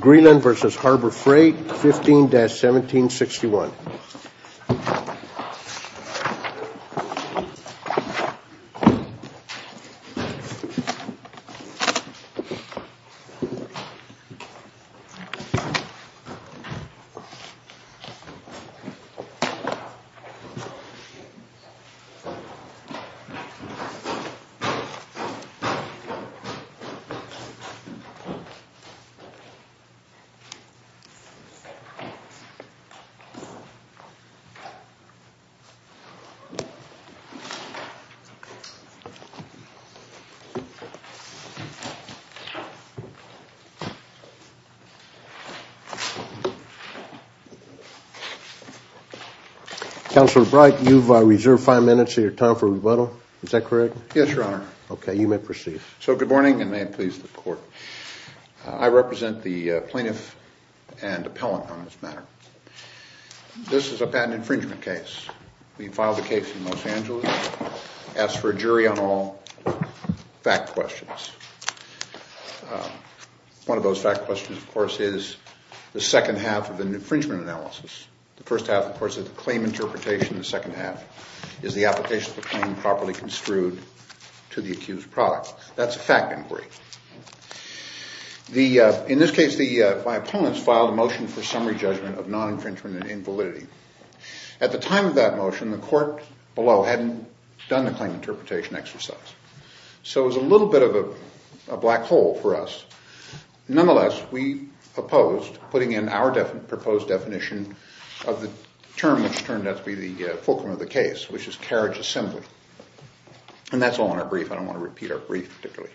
Greenland v. Harbor Freight, 15-1761 Counselor Bright, you've reserved five minutes of your time for rebuttal. Is that correct? Yes, Your Honor. Okay, you may proceed. So, good morning, and may it please the Court. I represent the plaintiff and appellant on this matter. This is a patent infringement case. We filed the case in Los Angeles, asked for a jury on all fact questions. One of those fact questions, of course, is the second half of an infringement analysis. The first half, of course, is the claim interpretation. The second half is the application of the claim properly construed to the accused product. That's a fact inquiry. In this case, my opponents filed a motion for summary judgment of non-infringement and invalidity. At the time of that motion, the court below hadn't done the claim interpretation exercise. So it was a little bit of a black hole for us. Nonetheless, we opposed, putting in our proposed definition of the term which turned out to be the fulcrum of the case, which is carriage assembly. And that's all in our brief. I don't want to repeat our brief particularly.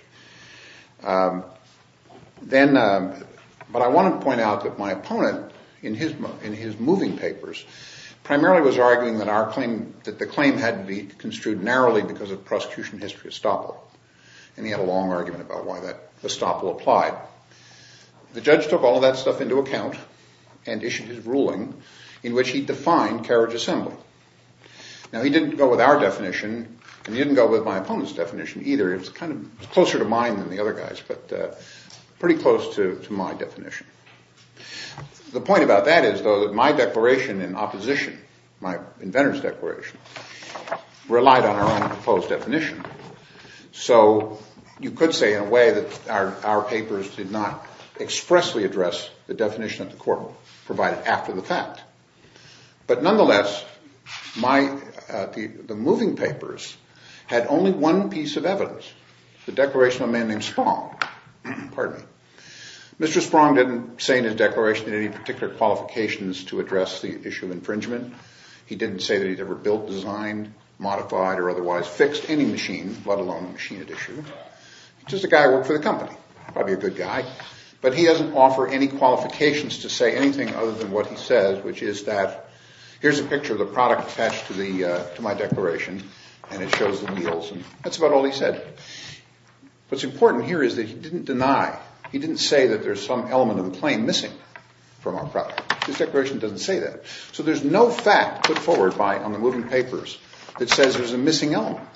But I want to point out that my opponent, in his moving papers, primarily was arguing that the claim had to be construed narrowly because of prosecution history estoppel. And he had a long argument about why that estoppel applied. The judge took all of that stuff into account and issued his ruling in which he defined carriage assembly. Now, he didn't go with our definition, and he didn't go with my opponent's definition either. It was kind of closer to mine than the other guys, but pretty close to my definition. The point about that is, though, that my declaration in opposition, my inventor's declaration, relied on our own proposed definition. So you could say in a way that our papers did not expressly address the definition that the court provided after the fact. But nonetheless, the moving papers had only one piece of evidence, the declaration of a man named Sprong. Mr. Sprong didn't say in his declaration any particular qualifications to address the issue of infringement. He didn't say that he'd ever built, designed, modified, or otherwise fixed any machine, let alone machine at issue. He's just a guy who worked for the company, probably a good guy. But he doesn't offer any qualifications to say anything other than what he says, which is that here's a picture of the product attached to my declaration, and it shows the meals. And that's about all he said. What's important here is that he didn't deny, he didn't say that there's some element of the claim missing from our product. His declaration doesn't say that. So there's no fact put forward on the moving papers that says there's a missing element.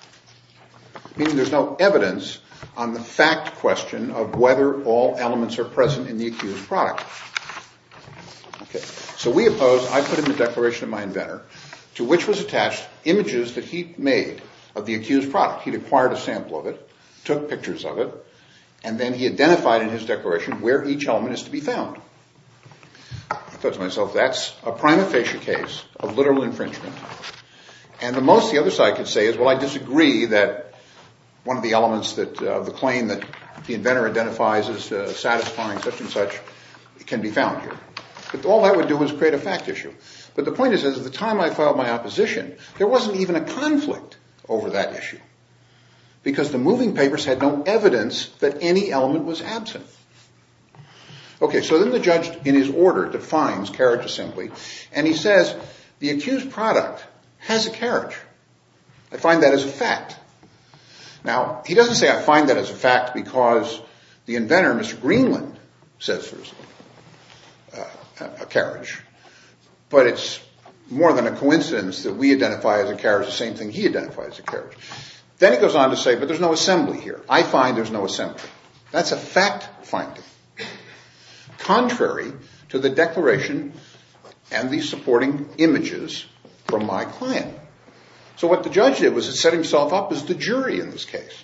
Meaning there's no evidence on the fact question of whether all elements are present in the accused product. So we opposed, I put in the declaration of my inventor, to which was attached images that he'd made of the accused product. He'd acquired a sample of it, took pictures of it, and then he identified in his declaration where each element is to be found. I thought to myself, that's a prima facie case of literal infringement. And the most the other side could say is, well, I disagree that one of the elements of the claim that the inventor identifies as satisfying such and such can be found here. But all that would do is create a fact issue. But the point is, at the time I filed my opposition, there wasn't even a conflict over that issue. Because the moving papers had no evidence that any element was absent. Okay, so then the judge in his order defines carriage assembly, and he says, the accused product has a carriage. I find that as a fact. Now, he doesn't say I find that as a fact because the inventor, Mr. Greenland, says there's a carriage. But it's more than a coincidence that we identify as a carriage the same thing he identifies as a carriage. Then he goes on to say, but there's no assembly here. I find there's no assembly. That's a fact finding, contrary to the declaration and the supporting images from my client. So what the judge did was he set himself up as the jury in this case.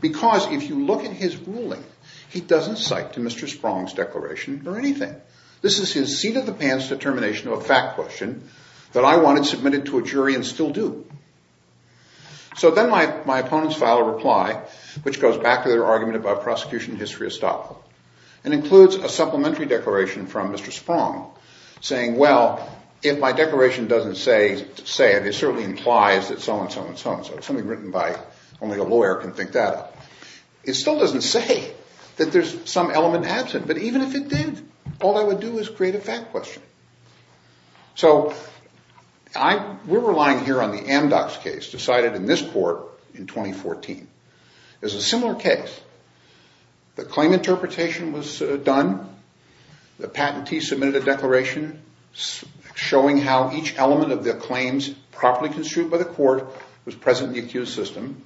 Because if you look at his ruling, he doesn't cite to Mr. Sprong's declaration or anything. This is his seat-of-the-pants determination of a fact question that I wanted submitted to a jury and still do. So then my opponents file a reply, which goes back to their argument about prosecution history estoppel. It includes a supplementary declaration from Mr. Sprong saying, well, if my declaration doesn't say it, it certainly implies that so-and-so and so-and-so. It's something written by only a lawyer can think that up. It still doesn't say that there's some element absent. But even if it did, all I would do is create a fact question. So we're relying here on the Amdocs case decided in this court in 2014. There's a similar case. The claim interpretation was done. The patentee submitted a declaration showing how each element of the claims properly construed by the court was present in the accused system.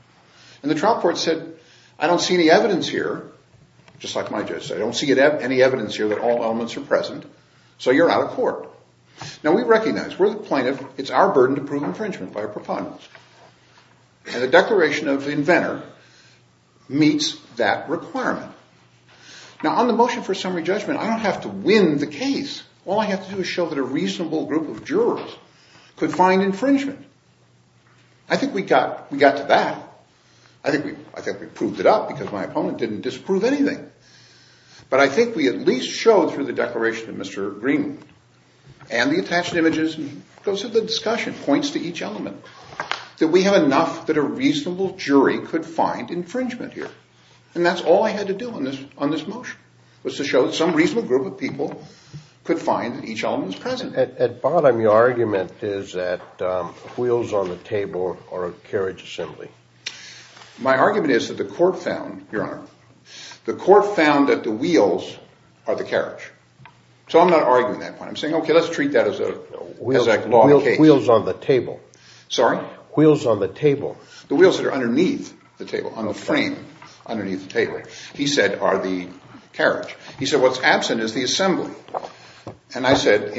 And the trial court said, I don't see any evidence here, just like my judge said. I don't see any evidence here that all elements are present. So you're out of court. Now, we recognize, we're the plaintiff. It's our burden to prove infringement by our proponents. And the declaration of the inventor meets that requirement. Now, on the motion for summary judgment, I don't have to win the case. All I have to do is show that a reasonable group of jurors could find infringement. I think we got to that. I think we proved it up because my opponent didn't disprove anything. But I think we at least showed through the declaration of Mr. Green and the attached images and goes to the discussion, points to each element, that we have enough that a reasonable jury could find infringement here. And that's all I had to do on this motion was to show that some reasonable group of people could find that each element was present. At bottom, your argument is that wheels on the table are a carriage assembly. My argument is that the court found, Your Honor, the court found that the wheels are the carriage. So I'm not arguing that point. I'm saying, okay, let's treat that as a law case. Wheels on the table. Sorry? Wheels on the table. The wheels that are underneath the table, on the frame underneath the table, he said, are the carriage. He said what's absent is the assembly. And I said,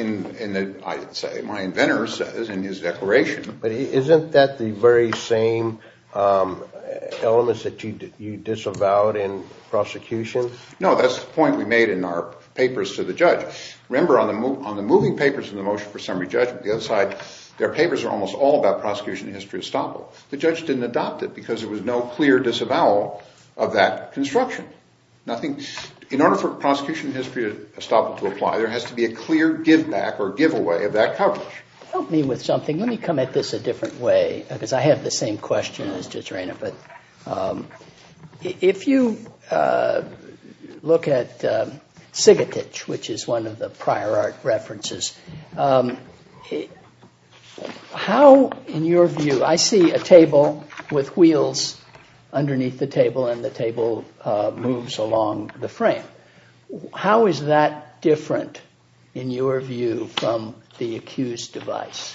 my inventor says in his declaration. But isn't that the very same elements that you disavowed in prosecution? No, that's the point we made in our papers to the judge. Remember on the moving papers in the motion for summary judgment, the other side, their papers are almost all about prosecution history estoppel. The judge didn't adopt it because there was no clear disavowal of that construction. In order for prosecution history estoppel to apply, there has to be a clear give back or give away of that coverage. Help me with something. Let me come at this a different way because I have the same question as Judge Rayner. But if you look at Sigatich, which is one of the prior art references, how, in your view, I see a table with wheels underneath the table and the table moves along the frame. How is that different in your view from the accused device?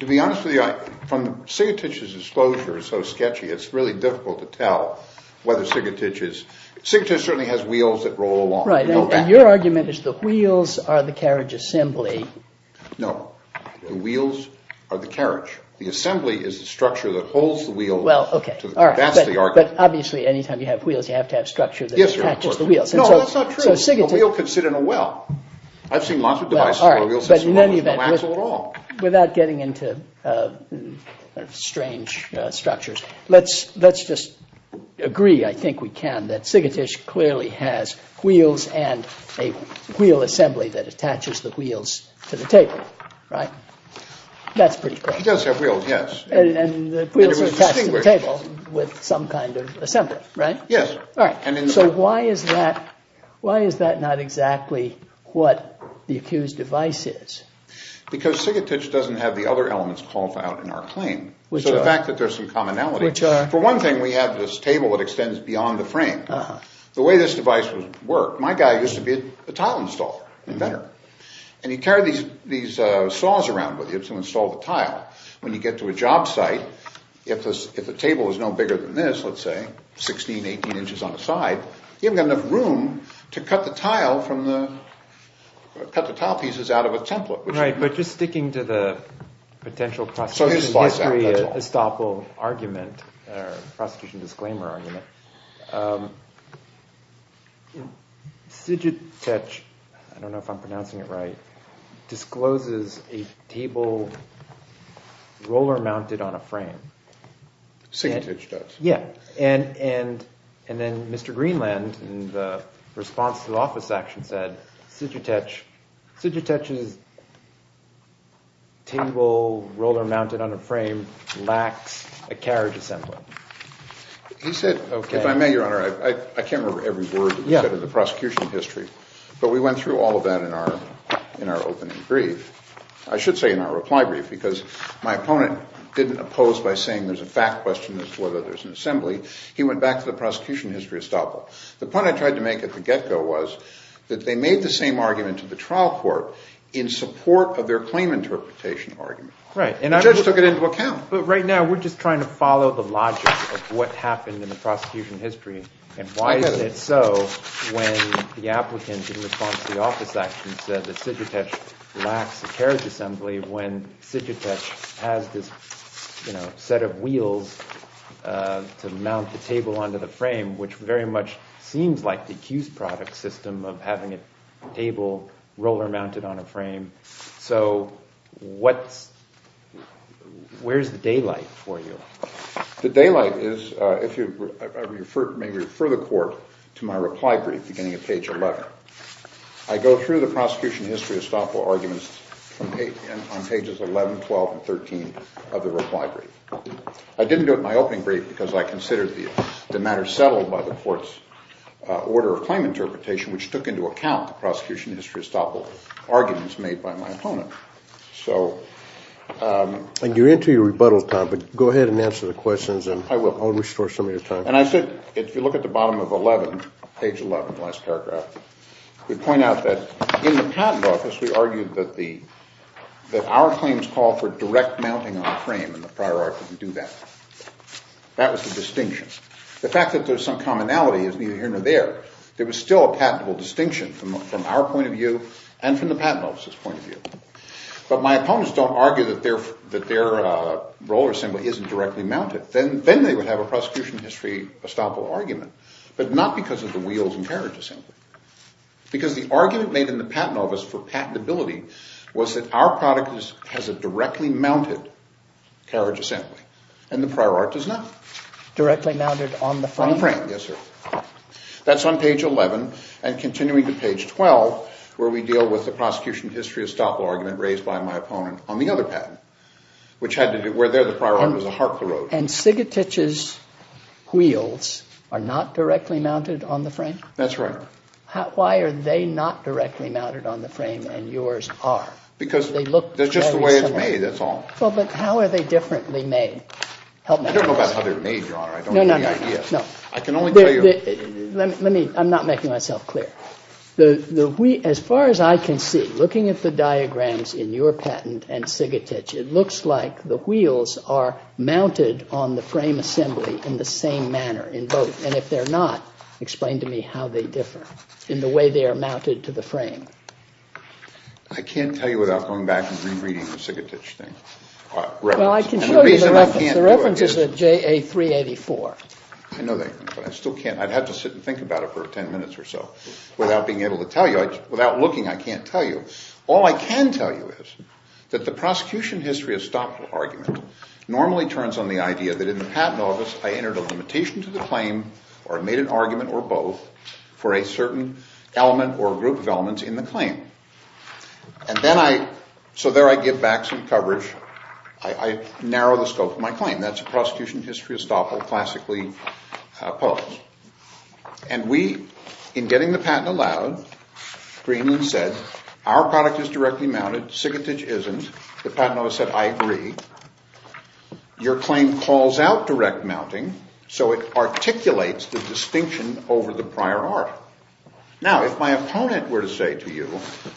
To be honest with you, from Sigatich's disclosure, so sketchy, it's really difficult to tell whether Sigatich is. Sigatich certainly has wheels that roll along. Right. And your argument is the wheels are the carriage assembly. No, the wheels are the carriage. The assembly is the structure that holds the wheel. Well, OK. That's the argument. But obviously, anytime you have wheels, you have to have structure that attaches the wheels. No, that's not true. A wheel could sit in a well. I've seen lots of devices where a wheel sits in a well with no axle at all. Without getting into strange structures, let's just agree. I think we can that Sigatich clearly has wheels and a wheel assembly that attaches the wheels to the table. Right. That's pretty clear. He does have wheels, yes. And the wheels attach to the table with some kind of assembly. Right. Yes. Right. So why is that not exactly what the accused device is? Because Sigatich doesn't have the other elements called out in our claim. Which are? So the fact that there's some commonality. Which are? For one thing, we have this table that extends beyond the frame. The way this device would work, my guy used to be a tile installer. Inventor. And he carried these saws around with him to install the tile. When you get to a job site, if the table is no bigger than this, let's say, 16, 18 inches on the side, you haven't got enough room to cut the tile pieces out of a template. Right. But just sticking to the potential prosecution history estoppel argument, prosecution disclaimer argument, Sigatich, I don't know if I'm pronouncing it right, discloses a table roller mounted on a frame. Sigatich does. Yeah. And then Mr. Greenland, in the response to the office action, said, Sigatich's table roller mounted on a frame lacks a carriage assembly. He said, if I may, Your Honor, I can't remember every word that was said in the prosecution history. But we went through all of that in our opening brief. I should say in our reply brief because my opponent didn't oppose by saying there's a fact question as to whether there's an assembly. He went back to the prosecution history estoppel. The point I tried to make at the get-go was that they made the same argument to the trial court in support of their claim interpretation argument. Right. The judge took it into account. But right now we're just trying to follow the logic of what happened in the prosecution history And why is it so when the applicant, in response to the office action, said that Sigatich lacks a carriage assembly, when Sigatich has this set of wheels to mount the table onto the frame, which very much seems like the accused product system of having a table roller mounted on a frame. So where's the daylight for you? The daylight is, if you may refer the court to my reply brief beginning at page 11. I go through the prosecution history estoppel arguments on pages 11, 12, and 13 of the reply brief. I didn't do it in my opening brief because I considered the matter settled by the court's order of claim interpretation, which took into account the prosecution history estoppel arguments made by my opponent. And you're into your rebuttal time, but go ahead and answer the questions and I'll restore some of your time. And I said, if you look at the bottom of 11, page 11, the last paragraph, we point out that in the patent office we argued that our claims call for direct mounting on a frame, and the prior article didn't do that. That was the distinction. The fact that there's some commonality is neither here nor there. There was still a patentable distinction from our point of view and from the patent office's point of view. But my opponents don't argue that their roller assembly isn't directly mounted. Then they would have a prosecution history estoppel argument, but not because of the wheels and carriage assembly. Because the argument made in the patent office for patentability was that our product has a directly mounted carriage assembly, and the prior art does not. Directly mounted on the frame. Yes, sir. That's on page 11. And continuing to page 12, where we deal with the prosecution history estoppel argument raised by my opponent on the other patent, which had to do, where there the prior article was a heart carotid. And Sigatich's wheels are not directly mounted on the frame? That's right. Why are they not directly mounted on the frame and yours are? Because they look very similar. It's just the way it's made, that's all. Well, but how are they differently made? I don't know about how they're made, Your Honor. I don't have any idea. No, no, no. I can only tell you. Let me, I'm not making myself clear. As far as I can see, looking at the diagrams in your patent and Sigatich, it looks like the wheels are mounted on the frame assembly in the same manner in both. And if they're not, explain to me how they differ in the way they are mounted to the frame. I can't tell you without going back and re-reading the Sigatich thing. Well, I can show you the reference. Which is a JA 384. I know that, but I still can't. I'd have to sit and think about it for 10 minutes or so without being able to tell you. Without looking, I can't tell you. All I can tell you is that the prosecution history of stop argument normally turns on the idea that in the patent office I entered a limitation to the claim or made an argument or both for a certain element or group of elements in the claim. And then I, so there I give back some coverage. I narrow the scope of my claim. That's a prosecution history of stop all classically opposed. And we, in getting the patent allowed, Greenland said, our product is directly mounted. Sigatich isn't. The patent office said, I agree. Your claim calls out direct mounting, so it articulates the distinction over the prior article. Now, if my opponent were to say to you,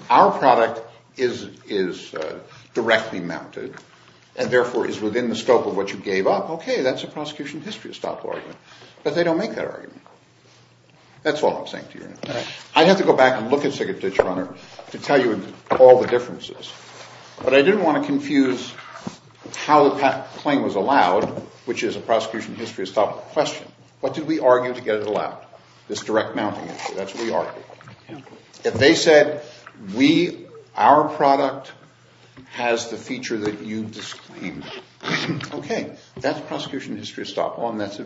our product is directly mounted and therefore is within the scope of what you gave up, okay, that's a prosecution history of stop argument. But they don't make that argument. That's all I'm saying to you. I'd have to go back and look at Sigatich, Your Honor, to tell you all the differences. But I didn't want to confuse how the patent claim was allowed, which is a prosecution history of stop question. What did we argue to get it allowed? This direct mounting issue. That's what we argued. If they said, we, our product has the feature that you disclaimed, okay, that's prosecution history of stop all, and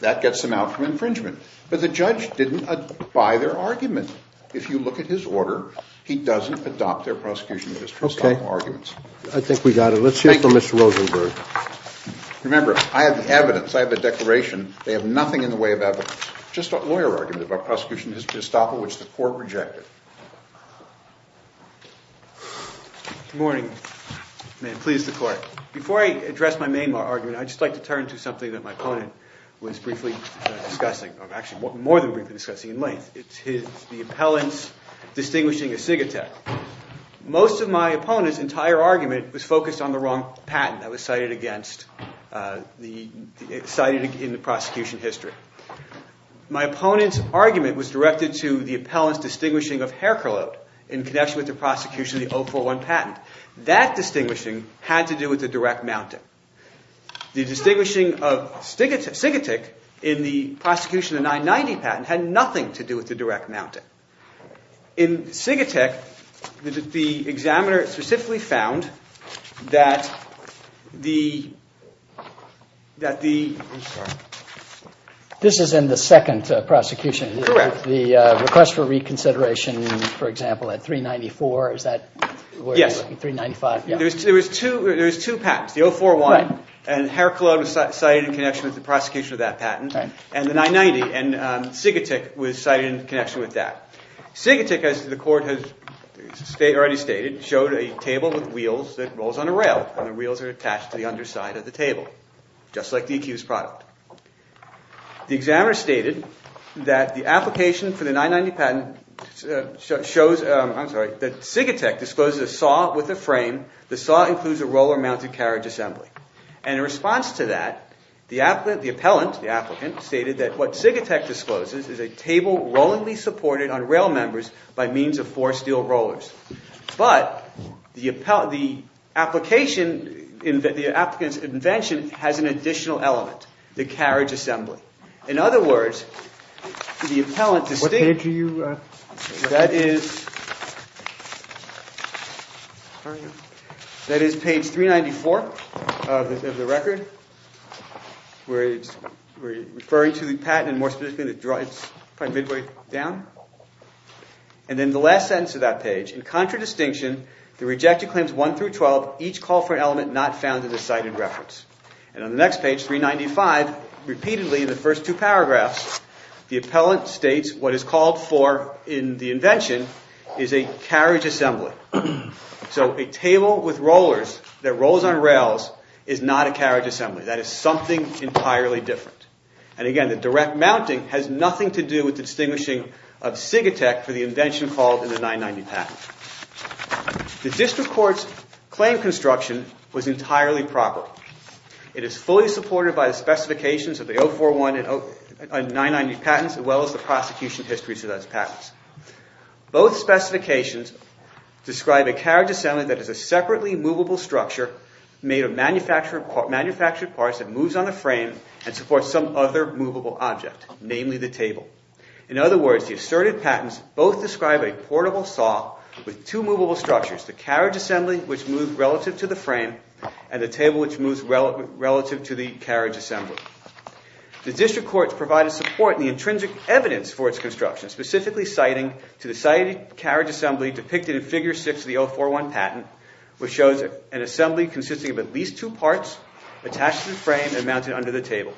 that gets them out for infringement. But the judge didn't buy their argument. If you look at his order, he doesn't adopt their prosecution history of stop all arguments. I think we got it. Let's hear from Mr. Rosenberg. Remember, I have the evidence. I have a declaration. They have nothing in the way of evidence. Just a lawyer argument about prosecution history of stop all, which the court rejected. Good morning. May it please the court. Before I address my main argument, I'd just like to turn to something that my opponent was briefly discussing. Actually, more than briefly discussing in length. It's the appellant's distinguishing of Sigatich. Most of my opponent's entire argument was focused on the wrong patent that was cited in the prosecution history. My opponent's argument was directed to the appellant's distinguishing of Hair Curlote in connection with the prosecution of the 041 patent. That distinguishing had to do with the direct mounting. The distinguishing of Sigatich in the prosecution of the 990 patent had nothing to do with the direct mounting. In Sigatich, the examiner specifically found that the- I'm sorry. This is in the second prosecution. Correct. The request for reconsideration, for example, at 394, is that where you're looking? Yes. 395, yeah. There was two patents, the 041. Right. And Hair Curlote was cited in connection with the prosecution of that patent. Right. And the 990. And Sigatich was cited in connection with that. Sigatich, as the court has already stated, showed a table with wheels that rolls on a rail. And the wheels are attached to the underside of the table, just like the accused product. The examiner stated that the application for the 990 patent shows- I'm sorry. That Sigatich discloses a saw with a frame. The saw includes a roller-mounted carriage assembly. And in response to that, the appellant, the applicant, stated that what Sigatich discloses is a table rollingly supported on rail members by means of four steel rollers. But the application, the applicant's invention, has an additional element, the carriage assembly. In other words, the appellant- What page are you- That is page 394 of the record, where it's referring to the patent. And more specifically, it's probably midway down. And in the last sentence of that page, in contradistinction, the rejected claims 1 through 12 each call for an element not found in the cited reference. And on the next page, 395, repeatedly in the first two paragraphs, the appellant states what is called for in the invention is a carriage assembly. So a table with rollers that rolls on rails is not a carriage assembly. That is something entirely different. And again, the direct mounting has nothing to do with the distinguishing of Sigatich for the invention called in the 990 patent. The district court's claim construction was entirely proper. It is fully supported by the specifications of the 041 and 990 patents, as well as the prosecution histories of those patents. Both specifications describe a carriage assembly that is a separately movable structure made of manufactured parts that moves on a frame and supports some other movable object, namely the table. In other words, the asserted patents both describe a portable saw with two movable structures, the carriage assembly, which moves relative to the frame, and the table, which moves relative to the carriage assembly. The district courts provide a support in the intrinsic evidence for its construction, specifically citing to the cited carriage assembly depicted in Figure 6 of the 041 patent, which shows an assembly consisting of at least two parts attached to the frame and mounted under the table.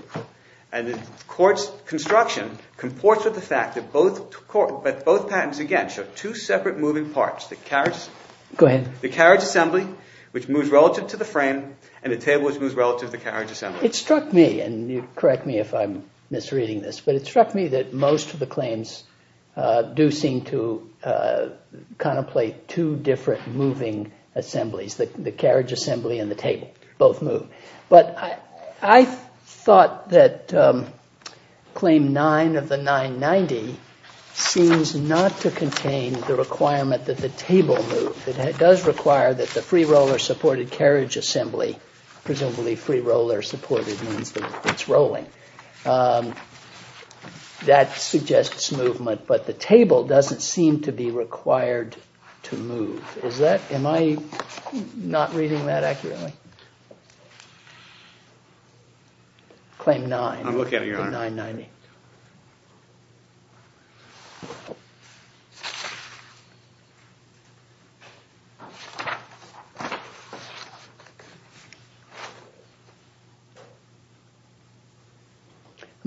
And the court's construction comports with the fact that both patents, again, show two separate moving parts, the carriage assembly, which moves relative to the frame, and the table, which moves relative to the carriage assembly. It struck me, and correct me if I'm misreading this, but it struck me that most of the claims do seem to contemplate two different moving assemblies, the carriage assembly and the table. Both move. But I thought that Claim 9 of the 990 seems not to contain the requirement that the table move. It does require that the free-roller-supported carriage assembly, presumably free-roller-supported means that it's rolling. That suggests movement, but the table doesn't seem to be required to move. Am I not reading that accurately? Claim 9 of 990.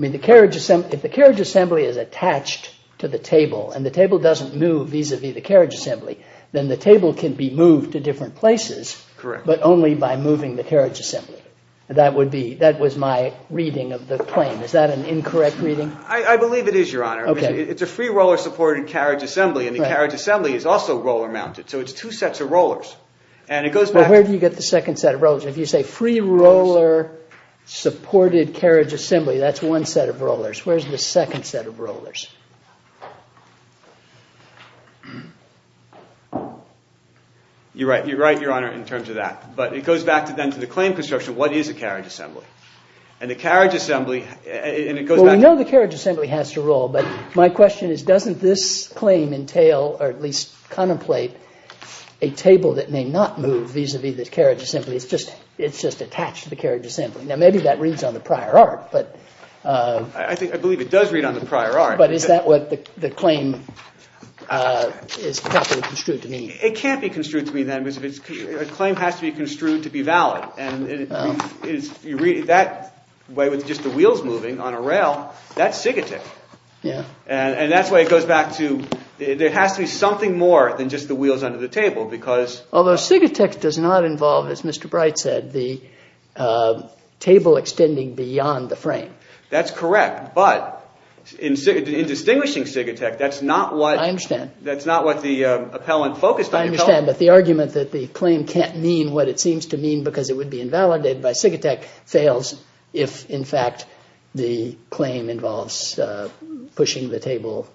I mean, if the carriage assembly is attached to the table and the table doesn't move vis-à-vis the carriage assembly, then the table can be moved to different places, but only by moving the carriage assembly. That was my reading of the claim. Is that an incorrect reading? I believe it is, Your Honor. It's a free-roller-supported carriage assembly, and the carriage assembly is also roller-mounted, so it's two sets of rollers. Where do you get the second set of rollers? If you say free-roller-supported carriage assembly, that's one set of rollers. Where's the second set of rollers? You're right, Your Honor, in terms of that. But it goes back then to the claim construction. What is a carriage assembly? And the carriage assembly, and it goes back to— Well, we know the carriage assembly has to roll, but my question is doesn't this claim entail, or at least contemplate, a table that may not move vis-à-vis the carriage assembly? It's just attached to the carriage assembly. Now, maybe that reads on the prior art, but— I believe it does read on the prior art. But is that what the claim is properly construed to mean? It can't be construed to mean that, because a claim has to be construed to be valid. And you read it that way with just the wheels moving on a rail. That's sigatech. Yeah. And that's why it goes back to— there has to be something more than just the wheels under the table because— Although sigatech does not involve, as Mr. Bright said, the table extending beyond the frame. That's correct, but in distinguishing sigatech, that's not what— I understand. That's not what the appellant focused on. I understand, but the argument that the claim can't mean what it seems to mean because it would be invalidated by sigatech fails if, in fact, the claim involves pushing the table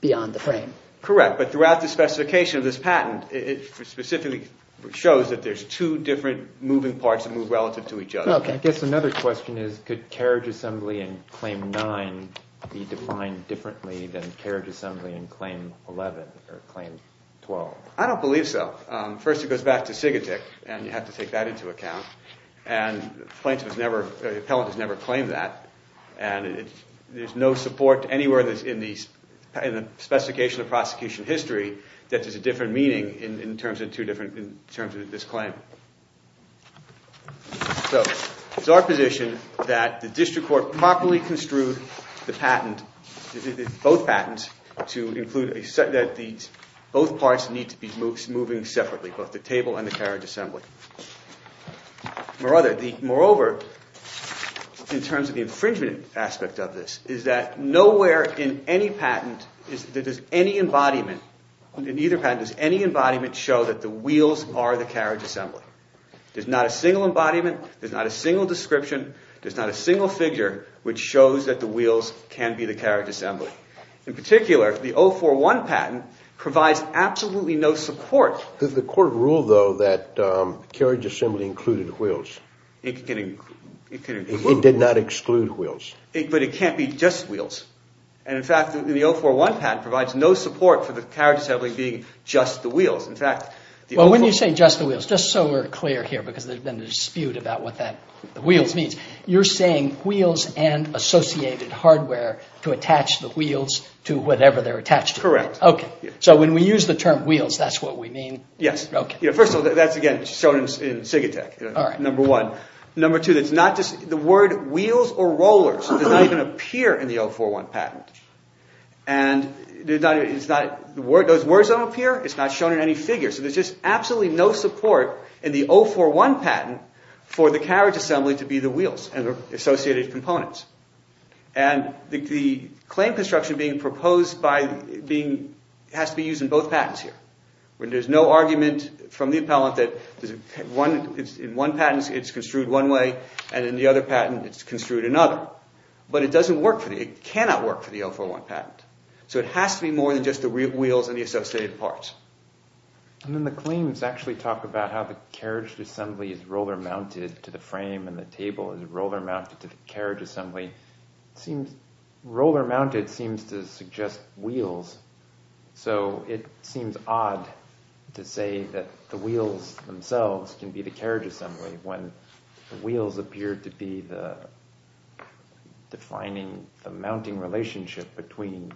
beyond the frame. Correct, but throughout the specification of this patent, it specifically shows that there's two different moving parts that move relative to each other. I guess another question is could carriage assembly in Claim 9 be defined differently than carriage assembly in Claim 11 or Claim 12? I don't believe so. First, it goes back to sigatech, and you have to take that into account. And the plaintiff has never—the appellant has never claimed that, and there's no support anywhere in the specification of prosecution history that there's a different meaning in terms of this claim. So it's our position that the district court properly construed the patent, both patents, to include that both parts need to be moving separately, both the table and the carriage assembly. Moreover, in terms of the infringement aspect of this, is that nowhere in any patent does any embodiment— There's not a single embodiment. There's not a single description. There's not a single figure which shows that the wheels can be the carriage assembly. In particular, the 041 patent provides absolutely no support. The court ruled, though, that carriage assembly included wheels. It did not exclude wheels. But it can't be just wheels. And, in fact, the 041 patent provides no support for the carriage assembly being just the wheels. Well, when you say just the wheels, just so we're clear here, because there's been a dispute about what that wheels means, you're saying wheels and associated hardware to attach the wheels to whatever they're attached to. Correct. Okay. So when we use the term wheels, that's what we mean? Yes. Okay. First of all, that's, again, shown in SIGATEC, number one. Number two, the word wheels or rollers does not even appear in the 041 patent. And those words don't appear. It's not shown in any figure. So there's just absolutely no support in the 041 patent for the carriage assembly to be the wheels and the associated components. And the claim construction being proposed has to be used in both patents here. There's no argument from the appellant that in one patent it's construed one way and in the other patent it's construed another. But it doesn't work for me. It cannot work for the 041 patent. So it has to be more than just the wheels and the associated parts. And then the claims actually talk about how the carriage assembly is roller-mounted to the frame and the table is roller-mounted to the carriage assembly. Roller-mounted seems to suggest wheels, so it seems odd to say that the wheels themselves can be the carriage assembly when the wheels appear to be defining the mounting relationship between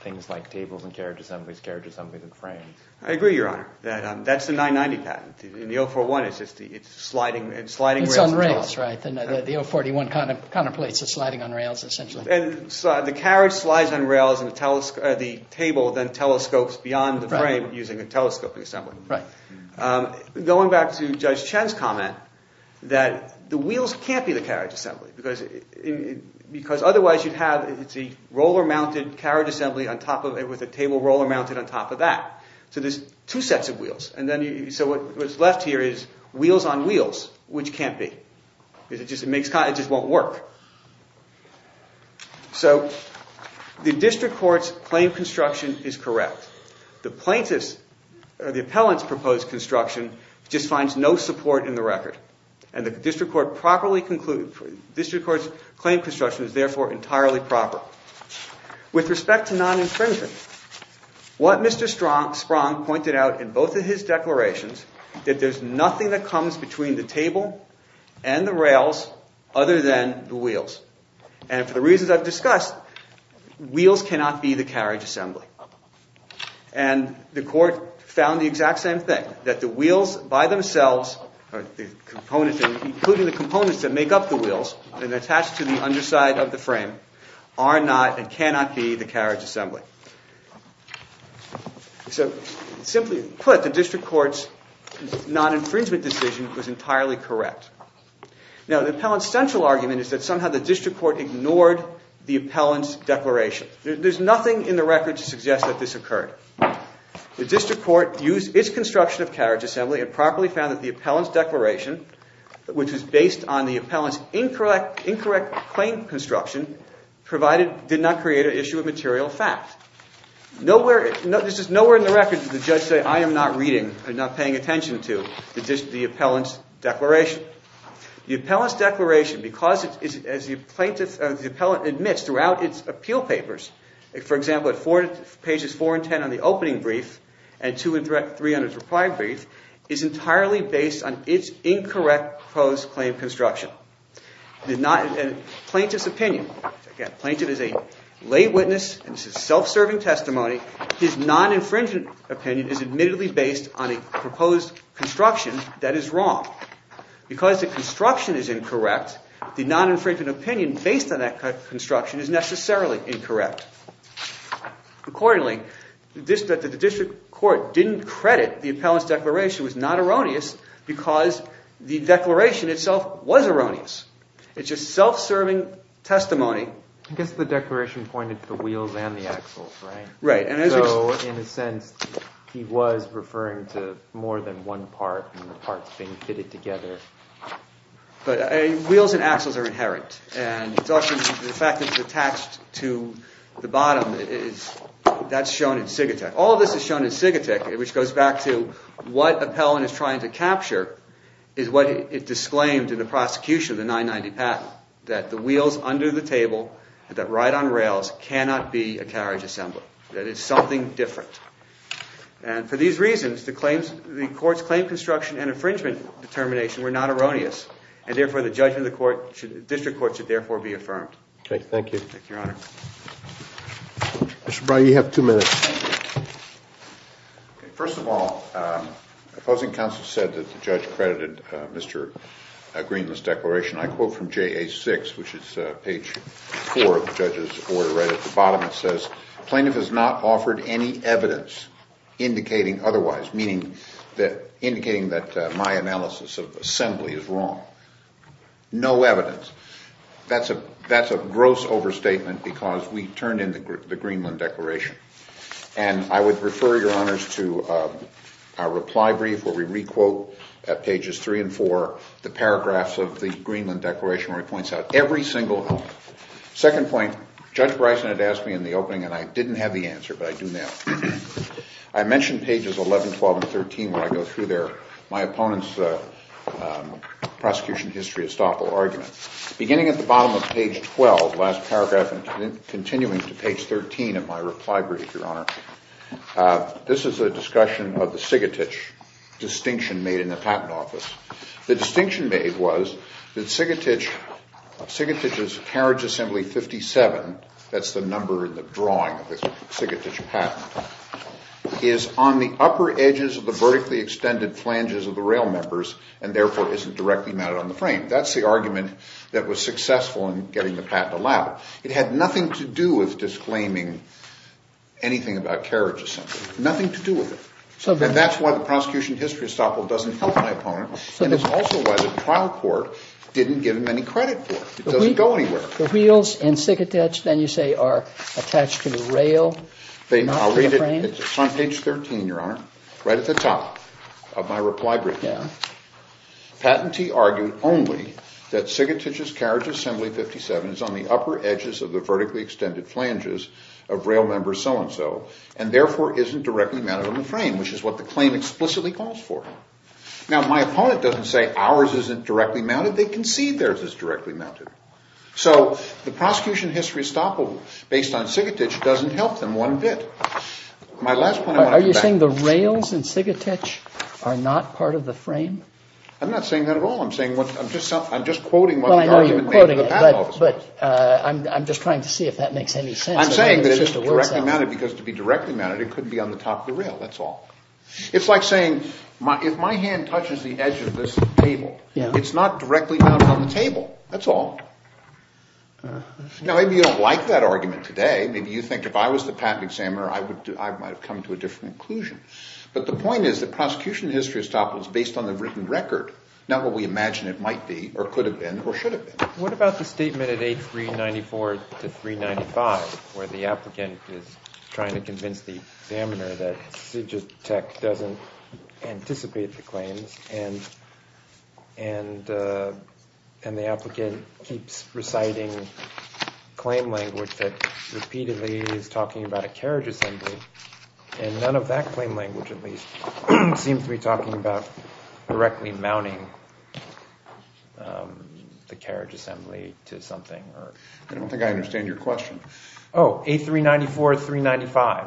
things like tables and carriage assemblies, carriage assemblies and frames. I agree, Your Honor. That's the 990 patent. In the 041 it's sliding rails. It's on rails, right? The 041 contemplates the sliding on rails essentially. And the carriage slides on rails and the table then telescopes beyond the frame using a telescoping assembly. Right. Going back to Judge Chen's comment that the wheels can't be the carriage assembly because otherwise you'd have a roller-mounted carriage assembly with a table roller-mounted on top of that. So there's two sets of wheels. So what's left here is wheels on wheels, which can't be. It just won't work. So the district court's claim construction is correct. The plaintiff's or the appellant's proposed construction just finds no support in the record, and the district court's claim construction is therefore entirely proper. With respect to non-infringement, what Mr. Sprong pointed out in both of his declarations is that there's nothing that comes between the table and the rails other than the wheels. And for the reasons I've discussed, wheels cannot be the carriage assembly. And the court found the exact same thing, that the wheels by themselves, including the components that make up the wheels and attach to the underside of the frame, are not and cannot be the carriage assembly. So simply put, the district court's non-infringement decision was entirely correct. Now, the appellant's central argument is that somehow the district court ignored the appellant's declaration. There's nothing in the record to suggest that this occurred. The district court used its construction of carriage assembly and properly found that the appellant's declaration, which was based on the appellant's incorrect claim construction, did not create an issue of material fact. Nowhere in the record did the judge say, I am not paying attention to the appellant's declaration. The appellant's declaration, as the appellant admits throughout its appeal papers, for example, at pages 4 and 10 on the opening brief and 2 and 3 on its reply brief, is entirely based on its incorrect proposed claim construction. The plaintiff's opinion, again, the plaintiff is a lay witness, and this is self-serving testimony, his non-infringement opinion is admittedly based on a proposed construction that is wrong. Because the construction is incorrect, the non-infringement opinion based on that construction is necessarily incorrect. Accordingly, the district court didn't credit the appellant's declaration was not erroneous because the declaration itself was erroneous. It's just self-serving testimony. I guess the declaration pointed to the wheels and the axles, right? Right. So in a sense, he was referring to more than one part and the parts being fitted together. But wheels and axles are inherent, and the fact that it's attached to the bottom, that's shown in Sigatech. All of this is shown in Sigatech, which goes back to what appellant is trying to capture is what it disclaimed in the prosecution of the 990 patent, that the wheels under the table and that right on rails cannot be a carriage assembly. That it's something different. And for these reasons, the court's claim construction and infringement determination were not erroneous, and therefore the judgment of the district court should therefore be affirmed. Thank you. Thank you, Your Honor. Mr. Brady, you have two minutes. First of all, opposing counsel said that the judge credited Mr. Greenland's declaration. I quote from JA-6, which is page 4 of the judge's order, right at the bottom. It says, Plaintiff has not offered any evidence indicating otherwise, meaning indicating that my analysis of assembly is wrong. No evidence. That's a gross overstatement because we turned in the Greenland declaration. And I would refer, Your Honors, to our reply brief where we re-quote at pages 3 and 4 the paragraphs of the Greenland declaration where it points out every single element. Second point, Judge Bryson had asked me in the opening and I didn't have the answer, but I do now. I mentioned pages 11, 12, and 13 when I go through there, my opponent's prosecution history estoppel argument. Beginning at the bottom of page 12, the last paragraph, and continuing to page 13 of my reply brief, Your Honor, this is a discussion of the Sigatich distinction made in the Patent Office. The distinction made was that Sigatich's carriage assembly 57, that's the number in the drawing of the Sigatich patent, is on the upper edges of the vertically extended flanges of the rail members and therefore isn't directly mounted on the frame. That's the argument that was successful in getting the patent allowed. It had nothing to do with disclaiming anything about carriage assembly. Nothing to do with it. And that's why the prosecution history estoppel doesn't help my opponent, and it's also why the trial court didn't give him any credit for it. It doesn't go anywhere. The wheels in Sigatich, then you say, are attached to the rail, not to the frame? It's on page 13, Your Honor, right at the top of my reply brief. Patentee argued only that Sigatich's carriage assembly 57 is on the upper edges of the vertically extended flanges of rail members so-and-so and therefore isn't directly mounted on the frame, which is what the claim explicitly calls for. Now, my opponent doesn't say ours isn't directly mounted. They concede theirs is directly mounted. So the prosecution history estoppel based on Sigatich doesn't help them one bit. My last point I want to come back to. Are you saying the rails in Sigatich are not part of the frame? I'm not saying that at all. I'm just quoting what the argument made to the patent office was. Well, I know you're quoting it, but I'm just trying to see if that makes any sense. I'm saying that it's directly mounted because to be directly mounted, it couldn't be on the top of the rail. That's all. It's like saying, if my hand touches the edge of this table, it's not directly mounted on the table. That's all. Now, maybe you don't like that argument today. Maybe you think if I was the patent examiner, I might have come to a different conclusion. But the point is that prosecution history estoppel is based on the written record, not what we imagine it might be or could have been or should have been. What about the statement at 8394 to 395 where the applicant is trying to convince the examiner that Sigitech doesn't anticipate the claims and the applicant keeps reciting claim language that repeatedly is talking about a carriage assembly and none of that claim language, at least, seems to be talking about directly mounting the carriage assembly to something? I don't think I understand your question. Oh, 8394 to 395.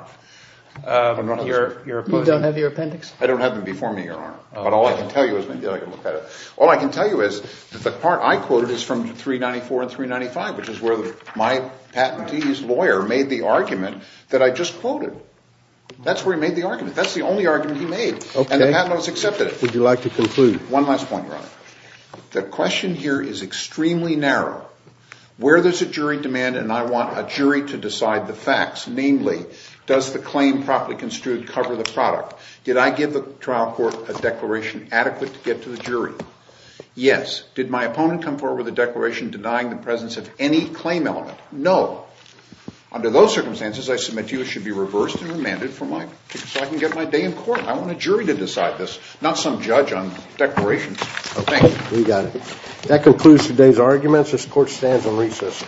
You don't have your appendix? I don't have them before me, Your Honor. But all I can tell you is maybe I can look at it. All I can tell you is that the part I quoted is from 394 and 395, which is where my patentee's lawyer made the argument that I just quoted. That's where he made the argument. That's the only argument he made. And the patent office accepted it. Would you like to conclude? One last point, Your Honor. The question here is extremely narrow. Where there's a jury demand and I want a jury to decide the facts, namely, does the claim properly construed cover the product? Did I give the trial court a declaration adequate to get to the jury? Yes. Did my opponent come forward with a declaration denying the presence of any claim element? No. Under those circumstances, I submit to you it should be reversed and remanded so I can get my day in court. I want a jury to decide this, not some judge on declarations. Thank you. We got it. That concludes today's arguments. This court stands on recess.